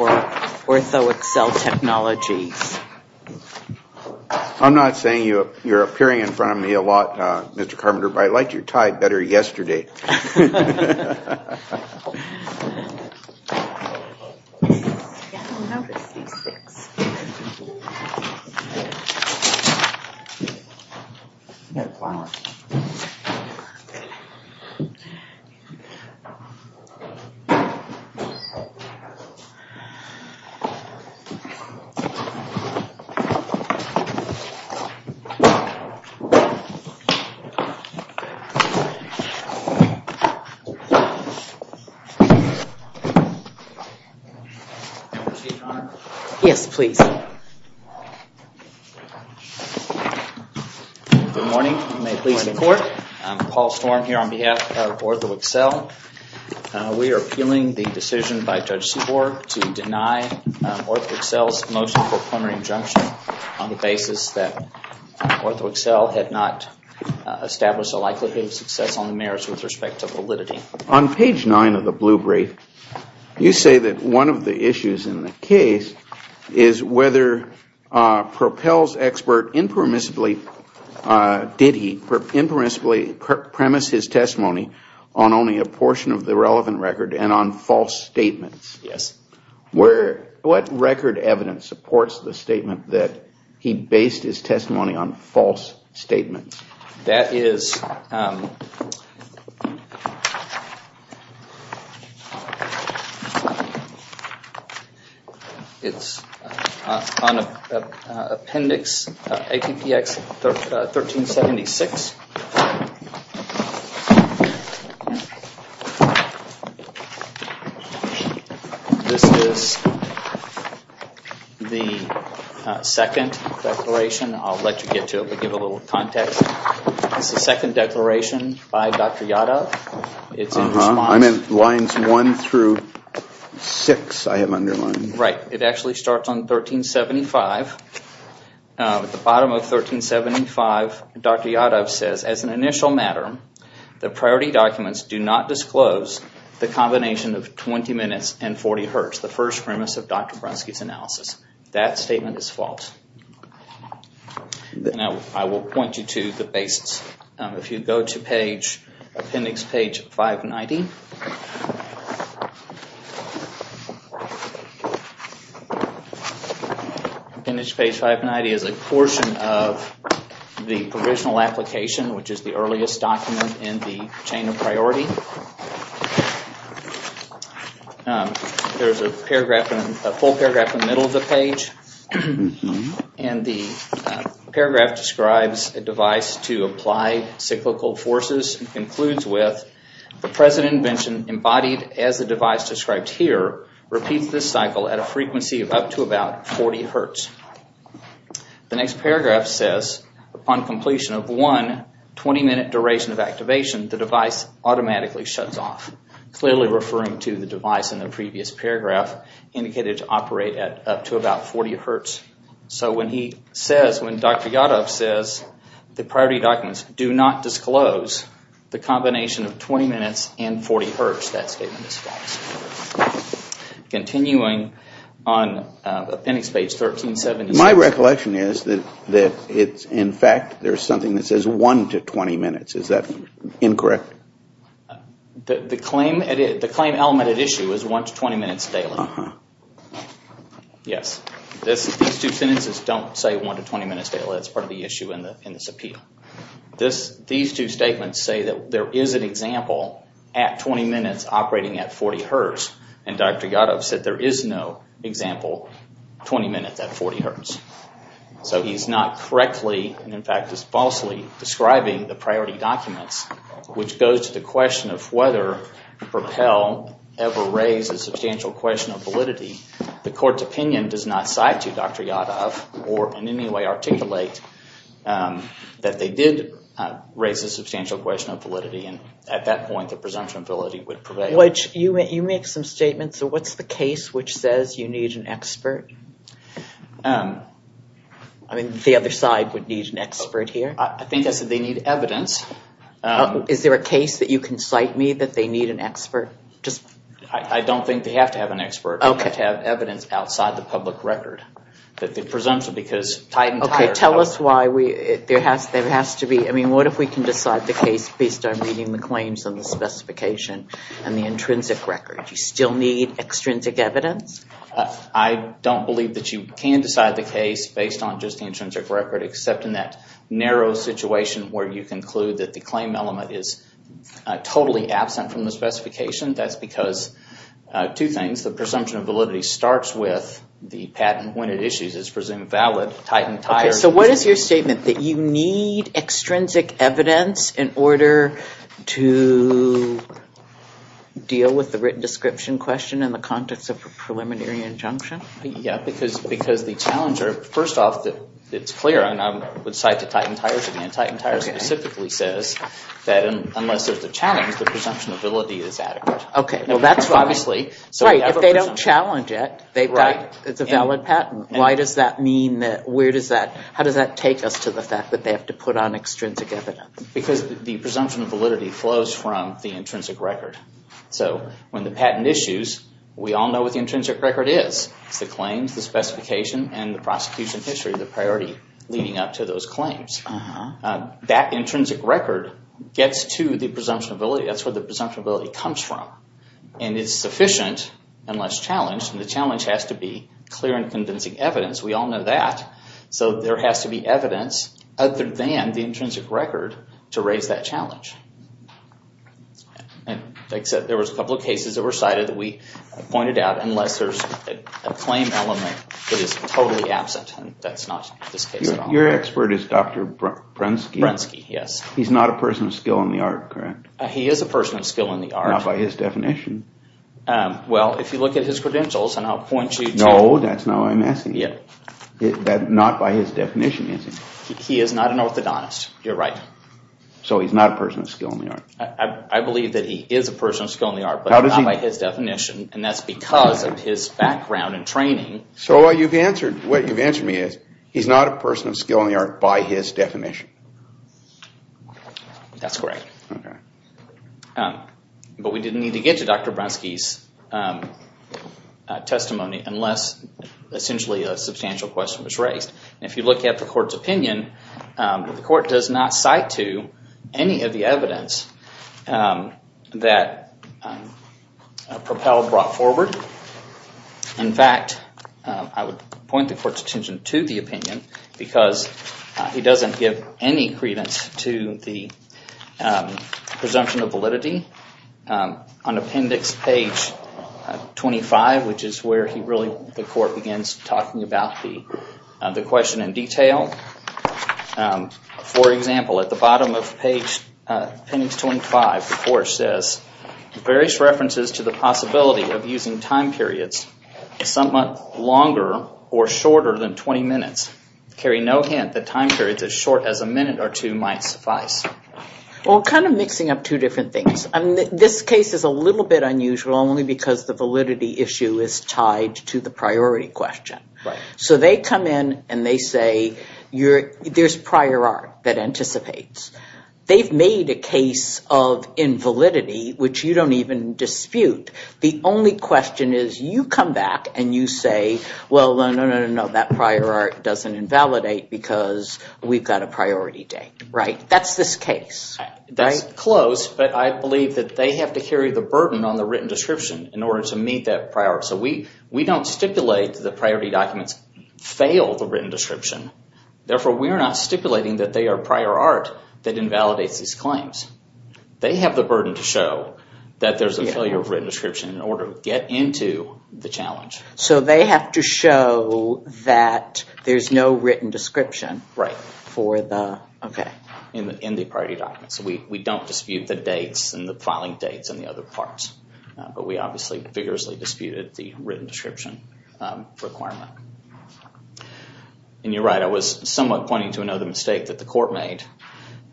I'm not saying you're appearing in front of me a lot, Mr. Carpenter, but I liked your tie better yesterday. Good morning, I'm Paul Storm here on behalf of OrthoAccel. We are appealing the decision by Judge Seaborg to deny OrthoAccel's motion for preliminary injunction on the basis that OrthoAccel had not established a likelihood of success on the merits with respect to validity. On page 9 of the blue brief, you say that one of the issues in the case is whether Propel's expert impermissibly premised his testimony on only a portion of the relevant record and on false statements. Yes. What record evidence supports the statement that he based his testimony on false statements? That is on Appendix 1376. This is the second declaration. I'll let you get to it, but give a little context. This is the second declaration by Dr. Yadov. It's in response. I meant lines 1 through 6 I have underlined. It actually starts on 1375. At the bottom of 1375, Dr. Yadov says, as an initial matter, the priority documents do not disclose the combination of 20 minutes and 40 hertz, the first premise of Dr. Brunsky's analysis. That statement is false. I will point you to the basis. If you go to Appendix 590. Appendix 590 is a portion of the provisional application, which is the earliest document in the chain of priority. There is a full paragraph in the middle of the page. The paragraph describes a device to apply cyclical forces. It concludes with, the present invention embodied as the device described here repeats this cycle at a frequency of up to about 40 hertz. The next paragraph says, upon completion of one 20 minute duration of activation, the device automatically shuts off. Clearly referring to the device in the previous paragraph indicated to operate at up to about 40 hertz. When Dr. Yadov says the priority documents do not disclose the combination of 20 minutes and 40 hertz, that statement is false. Continuing on Appendix 1370. My recollection is that in fact there is something that says 1 to 20 minutes. Is that incorrect? The claim element at issue is 1 to 20 minutes daily. Yes. These two sentences don't say 1 to 20 minutes daily. That is part of the issue in this appeal. These two statements say that there is an example at 20 minutes operating at 40 hertz. Dr. Yadov said there is no example 20 minutes at 40 hertz. He is not correctly and in fact is falsely describing the priority documents, which goes to the question of whether Propel ever raised a substantial question of validity. The court's opinion does not cite to Dr. Yadov or in any way articulate that they did raise a substantial question of validity. At that point the presumption of validity would prevail. You make some statements. What is the case which says you need an expert? The other side would need an expert here. I think I said they need evidence. Is there a case that you can cite me that they need an expert? I don't think they have to have an expert. They have to have evidence outside the public record. Tell us why. What if we can decide the case based on reading the claims and the specification and the intrinsic record? Do you still need extrinsic evidence? I don't believe that you can decide the case based on just the intrinsic record, except in that narrow situation where you conclude that the claim element is totally absent from the specification. That's because two things. The presumption of validity starts with the patent when it issues is presumed valid. What is your statement that you need extrinsic evidence in order to deal with the written description question in the context of a preliminary injunction? Because the challenge, first off, it's clear. I would cite the Titan Tires again. Titan Tires specifically says that unless there's a challenge, the presumption of validity is adequate. If they don't challenge it, it's a valid patent. How does that take us to the fact that they have to put on extrinsic evidence? Because the presumption of validity flows from the intrinsic record. When the patent issues, we all know what the intrinsic record is. It's the claims, the specification, and the prosecution history, the priority leading up to those claims. That intrinsic record gets to the presumption of validity. That's where the presumption of validity comes from. It's sufficient unless challenged, and the challenge has to be clear and convincing evidence. We all know that. There has to be evidence other than the intrinsic record to raise that challenge. Like I said, there was a couple of cases that were cited that we pointed out, unless there's a claim element that is totally absent, and that's not this case at all. Your expert is Dr. Brunsky? Brunsky, yes. He's not a person of skill in the art, correct? He is a person of skill in the art. Not by his definition. Well, if you look at his credentials, and I'll point you to— No, that's not what I'm asking. Yeah. Not by his definition, is he? He is not an orthodontist. You're right. So he's not a person of skill in the art. I believe that he is a person of skill in the art, but not by his definition, and that's because of his background and training. So what you've answered me is, he's not a person of skill in the art by his definition. That's correct. Okay. But we didn't need to get to Dr. Brunsky's testimony unless, essentially, a substantial question was raised. If you look at the court's opinion, the court does not cite to any of the evidence that Propelled brought forward. In fact, I would point the court's attention to the opinion because he doesn't give any credence to the presumption of validity. On appendix page 25, which is where he really—the court begins talking about the question in detail. For example, at the bottom of page—appendix 25, the court says, various references to the possibility of using time periods somewhat longer or shorter than 20 minutes carry no hint that time periods as short as a minute or two might suffice. Well, kind of mixing up two different things. This case is a little bit unusual only because the validity issue is tied to the priority question. So they come in and they say, there's prior art that anticipates. They've made a case of invalidity, which you don't even dispute. The only question is, you come back and you say, well, no, no, no, no, that prior art doesn't invalidate because we've got a priority date. That's this case. That's close, but I believe that they have to carry the burden on the written description in order to meet that prior art. So we don't stipulate the priority documents fail the written description. Therefore, we are not stipulating that they are prior art that invalidates these claims. They have the burden to show that there's a failure of written description in order to get into the challenge. So they have to show that there's no written description in the priority documents. So we don't dispute the dates and the filing dates and the other parts. But we obviously vigorously disputed the written description requirement. And you're right, I was somewhat pointing to another mistake that the court made.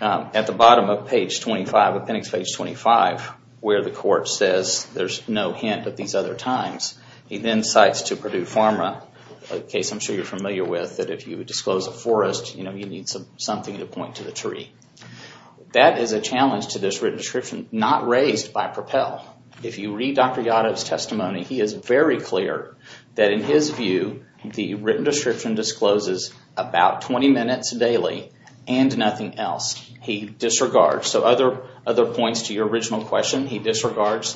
At the bottom of page 25, appendix page 25, where the court says there's no hint of these other times, he then cites to Purdue Pharma, a case I'm sure you're familiar with, that if you disclose a forest, you need something to point to the tree. That is a challenge to this written description not raised by Propel. If you read Dr. Yadov's testimony, he is very clear that in his view, the written description discloses about 20 minutes daily and nothing else. He disregards, so other points to your original question, he disregards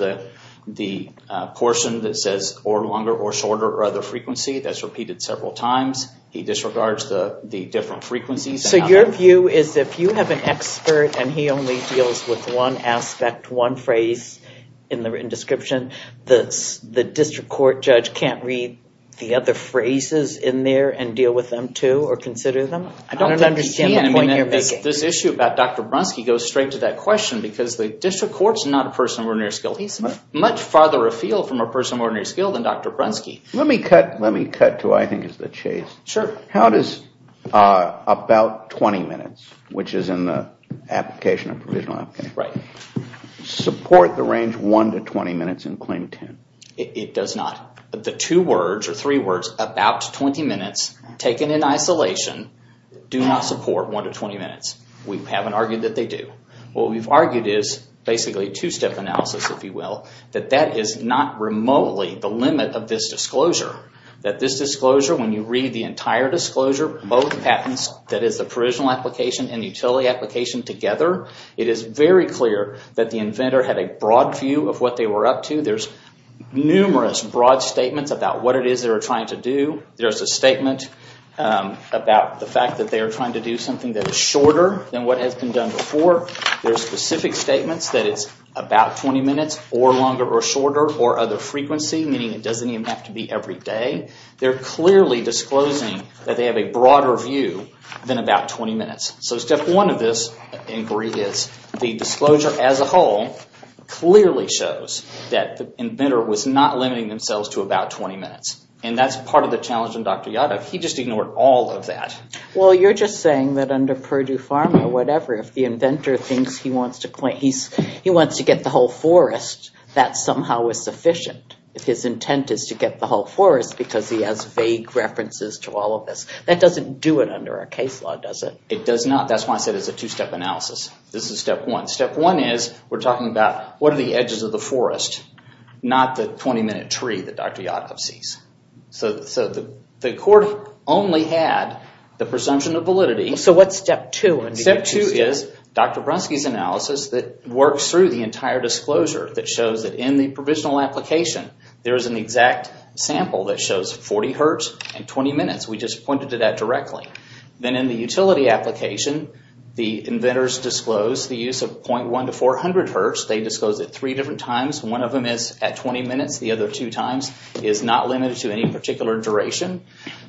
the portion that says or longer or shorter or other frequency. That's repeated several times. He disregards the different frequencies. So your view is if you have an expert and he only deals with one aspect, one phrase in the written description, the district court judge can't read the other phrases in there and deal with them too or consider them? I don't understand the point you're making. I think this issue about Dr. Brunsky goes straight to that question because the district court is not a person of ordinary skill. He's much farther afield from a person of ordinary skill than Dr. Brunsky. Let me cut to what I think is the chase. Sure. How does about 20 minutes, which is in the application of provisional application, support the range 1 to 20 minutes in claim 10? It does not. The two words or three words, about 20 minutes, taken in isolation, do not support 1 to 20 minutes. We haven't argued that they do. What we've argued is basically two-step analysis, if you will, that that is not remotely the limit of this disclosure. That this disclosure, when you read the entire disclosure, both patents, that is the provisional application and utility application together, it is very clear that the inventor had a broad view of what they were up to. There's numerous broad statements about what it is they were trying to do. There's a statement about the fact that they were trying to do something that is shorter than what has been done before. There's specific statements that it's about 20 minutes or longer or shorter or other frequency, meaning it doesn't even have to be every day. They're clearly disclosing that they have a broader view than about 20 minutes. So step one of this inquiry is the disclosure as a whole clearly shows that the inventor was not limiting themselves to about 20 minutes. And that's part of the challenge in Dr. Yadov. He just ignored all of that. Well, you're just saying that under Purdue Pharma, whatever, if the inventor thinks he wants to get the whole forest, that somehow is sufficient. His intent is to get the whole forest because he has vague references to all of this. That doesn't do it under our case law, does it? It does not. That's why I said it's a two-step analysis. This is step one. Step one is we're talking about what are the edges of the forest, not the 20-minute tree that Dr. Yadov sees. So the court only had the presumption of validity. So what's step two? Step two is Dr. Brunsky's analysis that works through the entire disclosure that shows that in the provisional application, there is an exact sample that shows 40 hertz and 20 minutes. We just pointed to that directly. Then in the utility application, the inventors disclose the use of .1 to 400 hertz. They disclose it three different times. One of them is at 20 minutes. The other two times is not limited to any particular duration.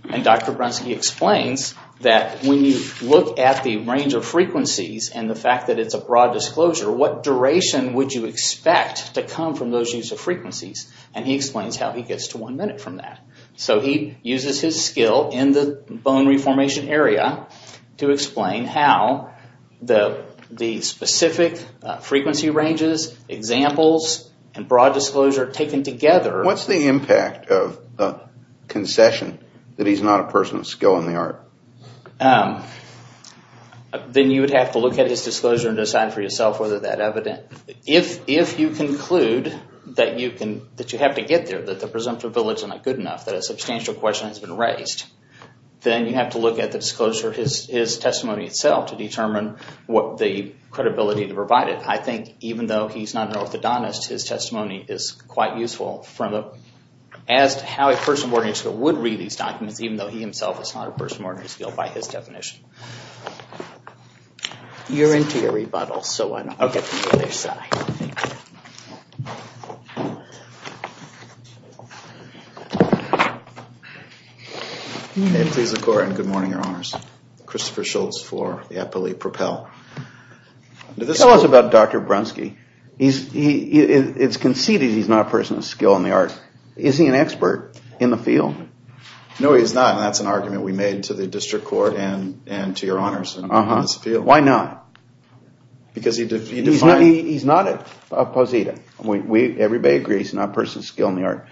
And Dr. Brunsky explains that when you look at the range of frequencies and the fact that it's a broad disclosure, what duration would you expect to come from those use of frequencies? And he explains how he gets to one minute from that. So he uses his skill in the bone reformation area to explain how the specific frequency ranges, examples, and broad disclosure taken together. What's the impact of concession that he's not a person of skill in the art? Then you would have to look at his disclosure and decide for yourself whether that evident. If you conclude that you have to get there, that the presumptive village is not good enough, that a substantial question has been raised, then you have to look at the disclosure, his testimony itself, to determine what the credibility to provide it. I think even though he's not an orthodontist, his testimony is quite useful as to how a person of ordinary skill would read these documents, even though he himself is not a person of ordinary skill by his definition. You're into your rebuttals, so I'll get to the other side. May it please the Court, and good morning, Your Honors. Christopher Schultz for the Appellee Propel. Tell us about Dr. Brunsky. It's conceded he's not a person of skill in the art. Is he an expert in the field? No, he's not, and that's an argument we made to the district court and to Your Honors in this field. Why not? Because he defines... He's not a posita. Everybody agrees he's not a person of skill in the art.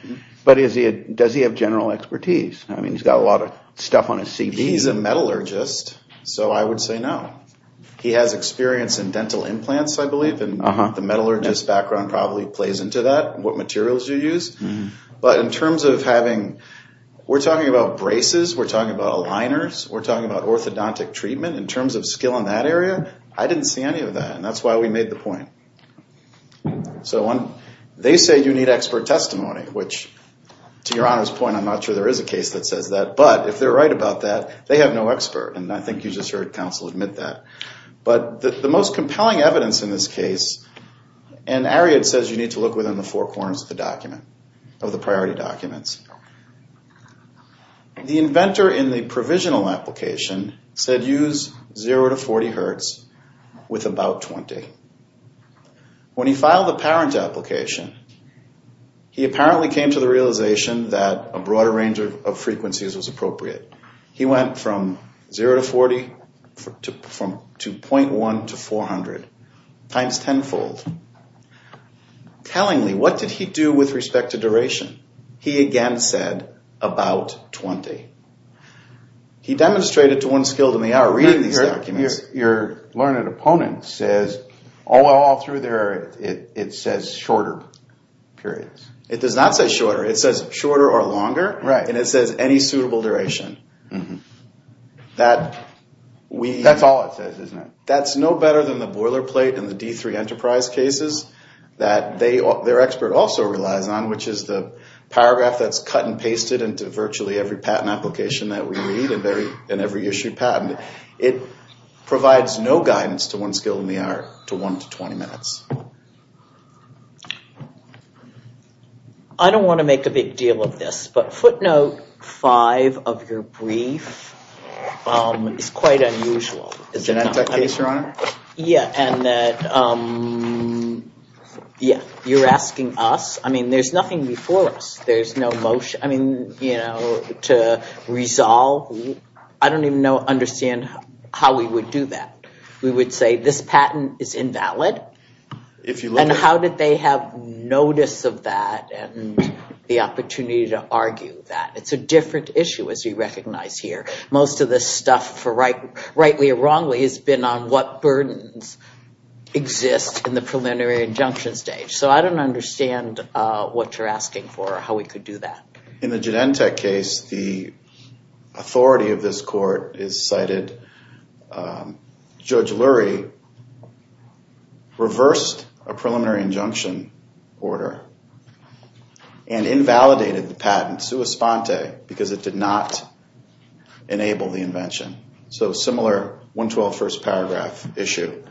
But does he have general expertise? I mean, he's got a lot of stuff on his CV. He's a metallurgist, so I would say no. He has experience in dental implants, I believe, and the metallurgist background probably plays into that, what materials you use. But in terms of having... We're talking about braces, we're talking about aligners, we're talking about orthodontic treatment. In terms of skill in that area, I didn't see any of that, and that's why we made the point. So they say you need expert testimony, which, to Your Honors' point, I'm not sure there is a case that says that. But if they're right about that, they have no expert, and I think you just heard counsel admit that. But the most compelling evidence in this case, and Ariad says you need to look within the four corners of the document, of the priority documents. The inventor in the provisional application said use 0 to 40 hertz with about 20. When he filed the parent application, he apparently came to the realization that a broader range of frequencies was appropriate. He went from 0 to 40 to .1 to 400, times tenfold. Tellingly, what did he do with respect to duration? He again said about 20. He demonstrated to one skilled in the hour, reading these documents. Your learned opponent says all through there, it says shorter periods. It does not say shorter. It says shorter or longer, and it says any suitable duration. That's all it says, isn't it? That's no better than the boilerplate in the D3 Enterprise cases that their expert also relies on, which is the paragraph that's cut and pasted into virtually every patent application that we read and every issued patent. It provides no guidance to one skilled in the hour to 1 to 20 minutes. I don't want to make a big deal of this, but footnote 5 of your brief is quite unusual. The Genentech case, Your Honor? Yeah, and that you're asking us. I mean, there's nothing before us. There's no motion to resolve. I don't even understand how we would do that. We would say this patent is invalid, and how did they have notice of that and the opportunity to argue that? It's a different issue, as we recognize here. Most of this stuff, rightly or wrongly, has been on what burdens exist in the preliminary injunction stage. So I don't understand what you're asking for or how we could do that. In the Genentech case, the authority of this court is cited. Judge Lurie reversed a preliminary injunction order and invalidated the patent sua sponte because it did not enable the invention. So a similar 112 first paragraph issue.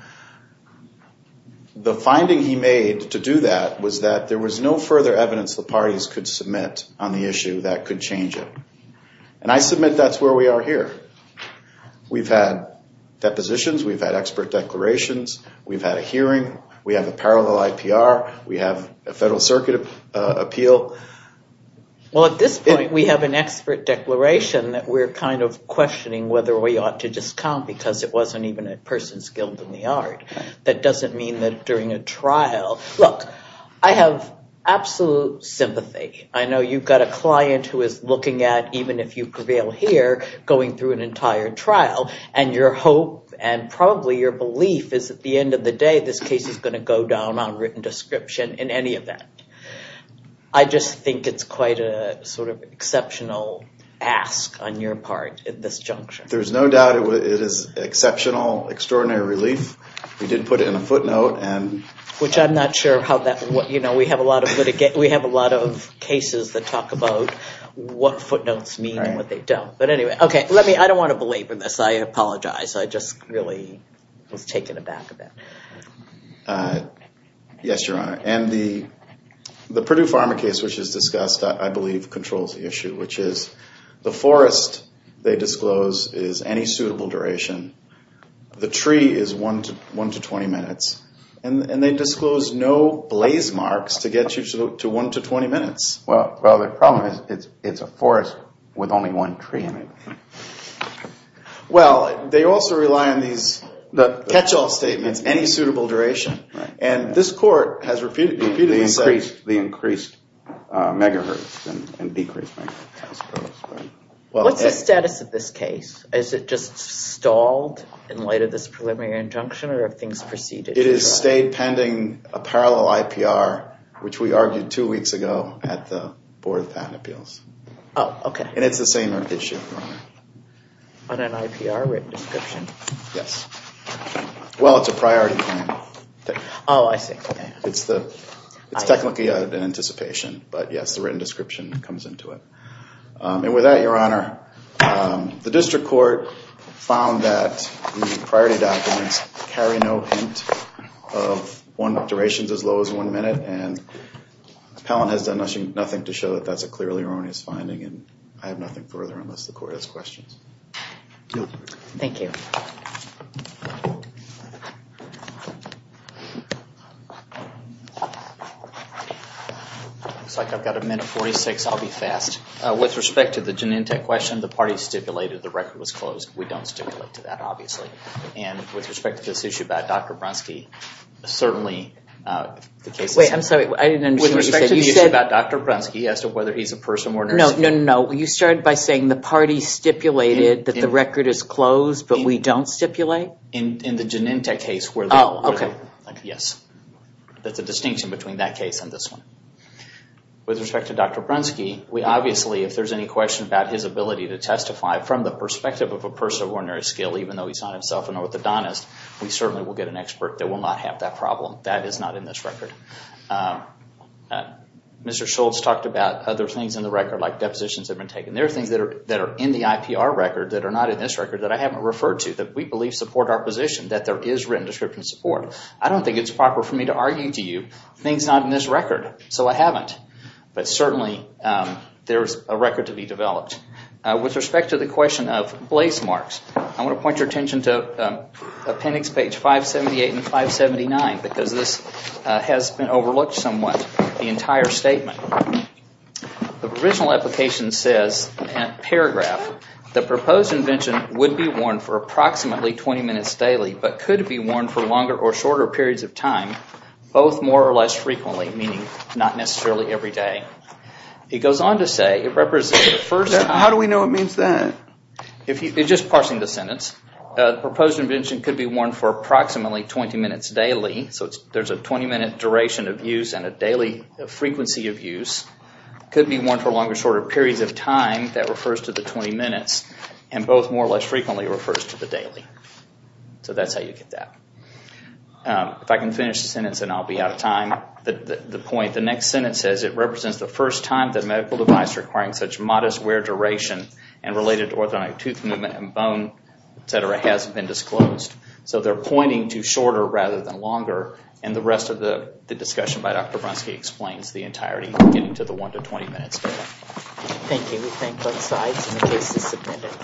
The finding he made to do that was that there was no further evidence the parties could submit on the issue that could change it. And I submit that's where we are here. We've had depositions. We've had expert declarations. We've had a hearing. We have a parallel IPR. We have a Federal Circuit appeal. Well, at this point, we have an expert declaration that we're kind of questioning whether we ought to discount because it wasn't even a person skilled in the art. That doesn't mean that during a trial. Look, I have absolute sympathy. I know you've got a client who is looking at, even if you prevail here, going through an entire trial, and your hope and probably your belief is at the end of the day this case is going to go down on written description in any event. I just think it's quite a sort of exceptional ask on your part at this junction. There's no doubt it is exceptional, extraordinary relief. We did put it in a footnote. Which I'm not sure how that would, you know, we have a lot of cases that talk about what footnotes mean and what they don't. But anyway, okay, I don't want to belabor this. I apologize. I just really was taken aback a bit. Yes, Your Honor. And the Purdue Pharma case, which is discussed, I believe controls the issue, which is the forest, they disclose, is any suitable duration. The tree is 1 to 20 minutes. And they disclose no blaze marks to get you to 1 to 20 minutes. Well, the problem is it's a forest with only one tree in it. Well, they also rely on these catch-all statements, any suitable duration. And this court has repeatedly said the increased megahertz and decreased megahertz. What's the status of this case? Is it just stalled in light of this preliminary injunction or have things proceeded? It has stayed pending a parallel IPR, which we argued two weeks ago at the board of patent appeals. Oh, okay. And it's the same issue, Your Honor. On an IPR written description? Yes. Well, it's a priority claim. Oh, I see. It's technically an anticipation. But, yes, the written description comes into it. And with that, Your Honor, the district court found that the priority documents carry no hint of durations as low as 1 minute. And the appellant has done nothing to show that that's a clearly erroneous finding. And I have nothing further unless the court has questions. Thank you. It looks like I've got a minute 46. I'll be fast. With respect to the Genentech question, the party stipulated the record was closed. We don't stipulate to that, obviously. And with respect to this issue about Dr. Brunsky, certainly the case is safe. Wait, I'm sorry. I didn't understand what you said. With respect to the issue about Dr. Brunsky as to whether he's a person or nurse. No, no, no. You started by saying the party stipulated that the record is closed, but we don't stipulate? In the Genentech case. Oh, okay. Yes. That's the distinction between that case and this one. With respect to Dr. Brunsky, we obviously, if there's any question about his ability to testify from the perspective of a person of ordinary skill, even though he's not himself an orthodontist, we certainly will get an expert that will not have that problem. That is not in this record. Mr. Schultz talked about other things in the record, like depositions have been taken. There are things that are in the IPR record that are not in this record that I haven't referred to that we believe support our position, that there is written description support. I don't think it's proper for me to argue to you things not in this record, so I haven't. But certainly, there's a record to be developed. With respect to the question of blaze marks, I want to point your attention to appendix page 578 and 579, because this has been overlooked somewhat, the entire statement. The provisional application says in that paragraph, the proposed invention would be worn for approximately 20 minutes daily, but could be worn for longer or shorter periods of time, both more or less frequently, meaning not necessarily every day. It goes on to say, it represents the first time. How do we know it means that? Just parsing the sentence. The proposed invention could be worn for approximately 20 minutes daily, so there's a 20-minute duration of use and a daily frequency of use. It could be worn for longer or shorter periods of time, that refers to the 20 minutes, and both more or less frequently refers to the daily. So that's how you get that. If I can finish the sentence and I'll be out of time, the point, the next sentence says it represents the first time that a medical device requiring such modest wear duration and related orthodontic tooth movement and bone, et cetera, has been disclosed. So they're pointing to shorter rather than longer, and the rest of the discussion by Dr. Bronski explains the entirety, getting to the one to 20 minutes. Thank you. We thank both sides, and the case is submitted.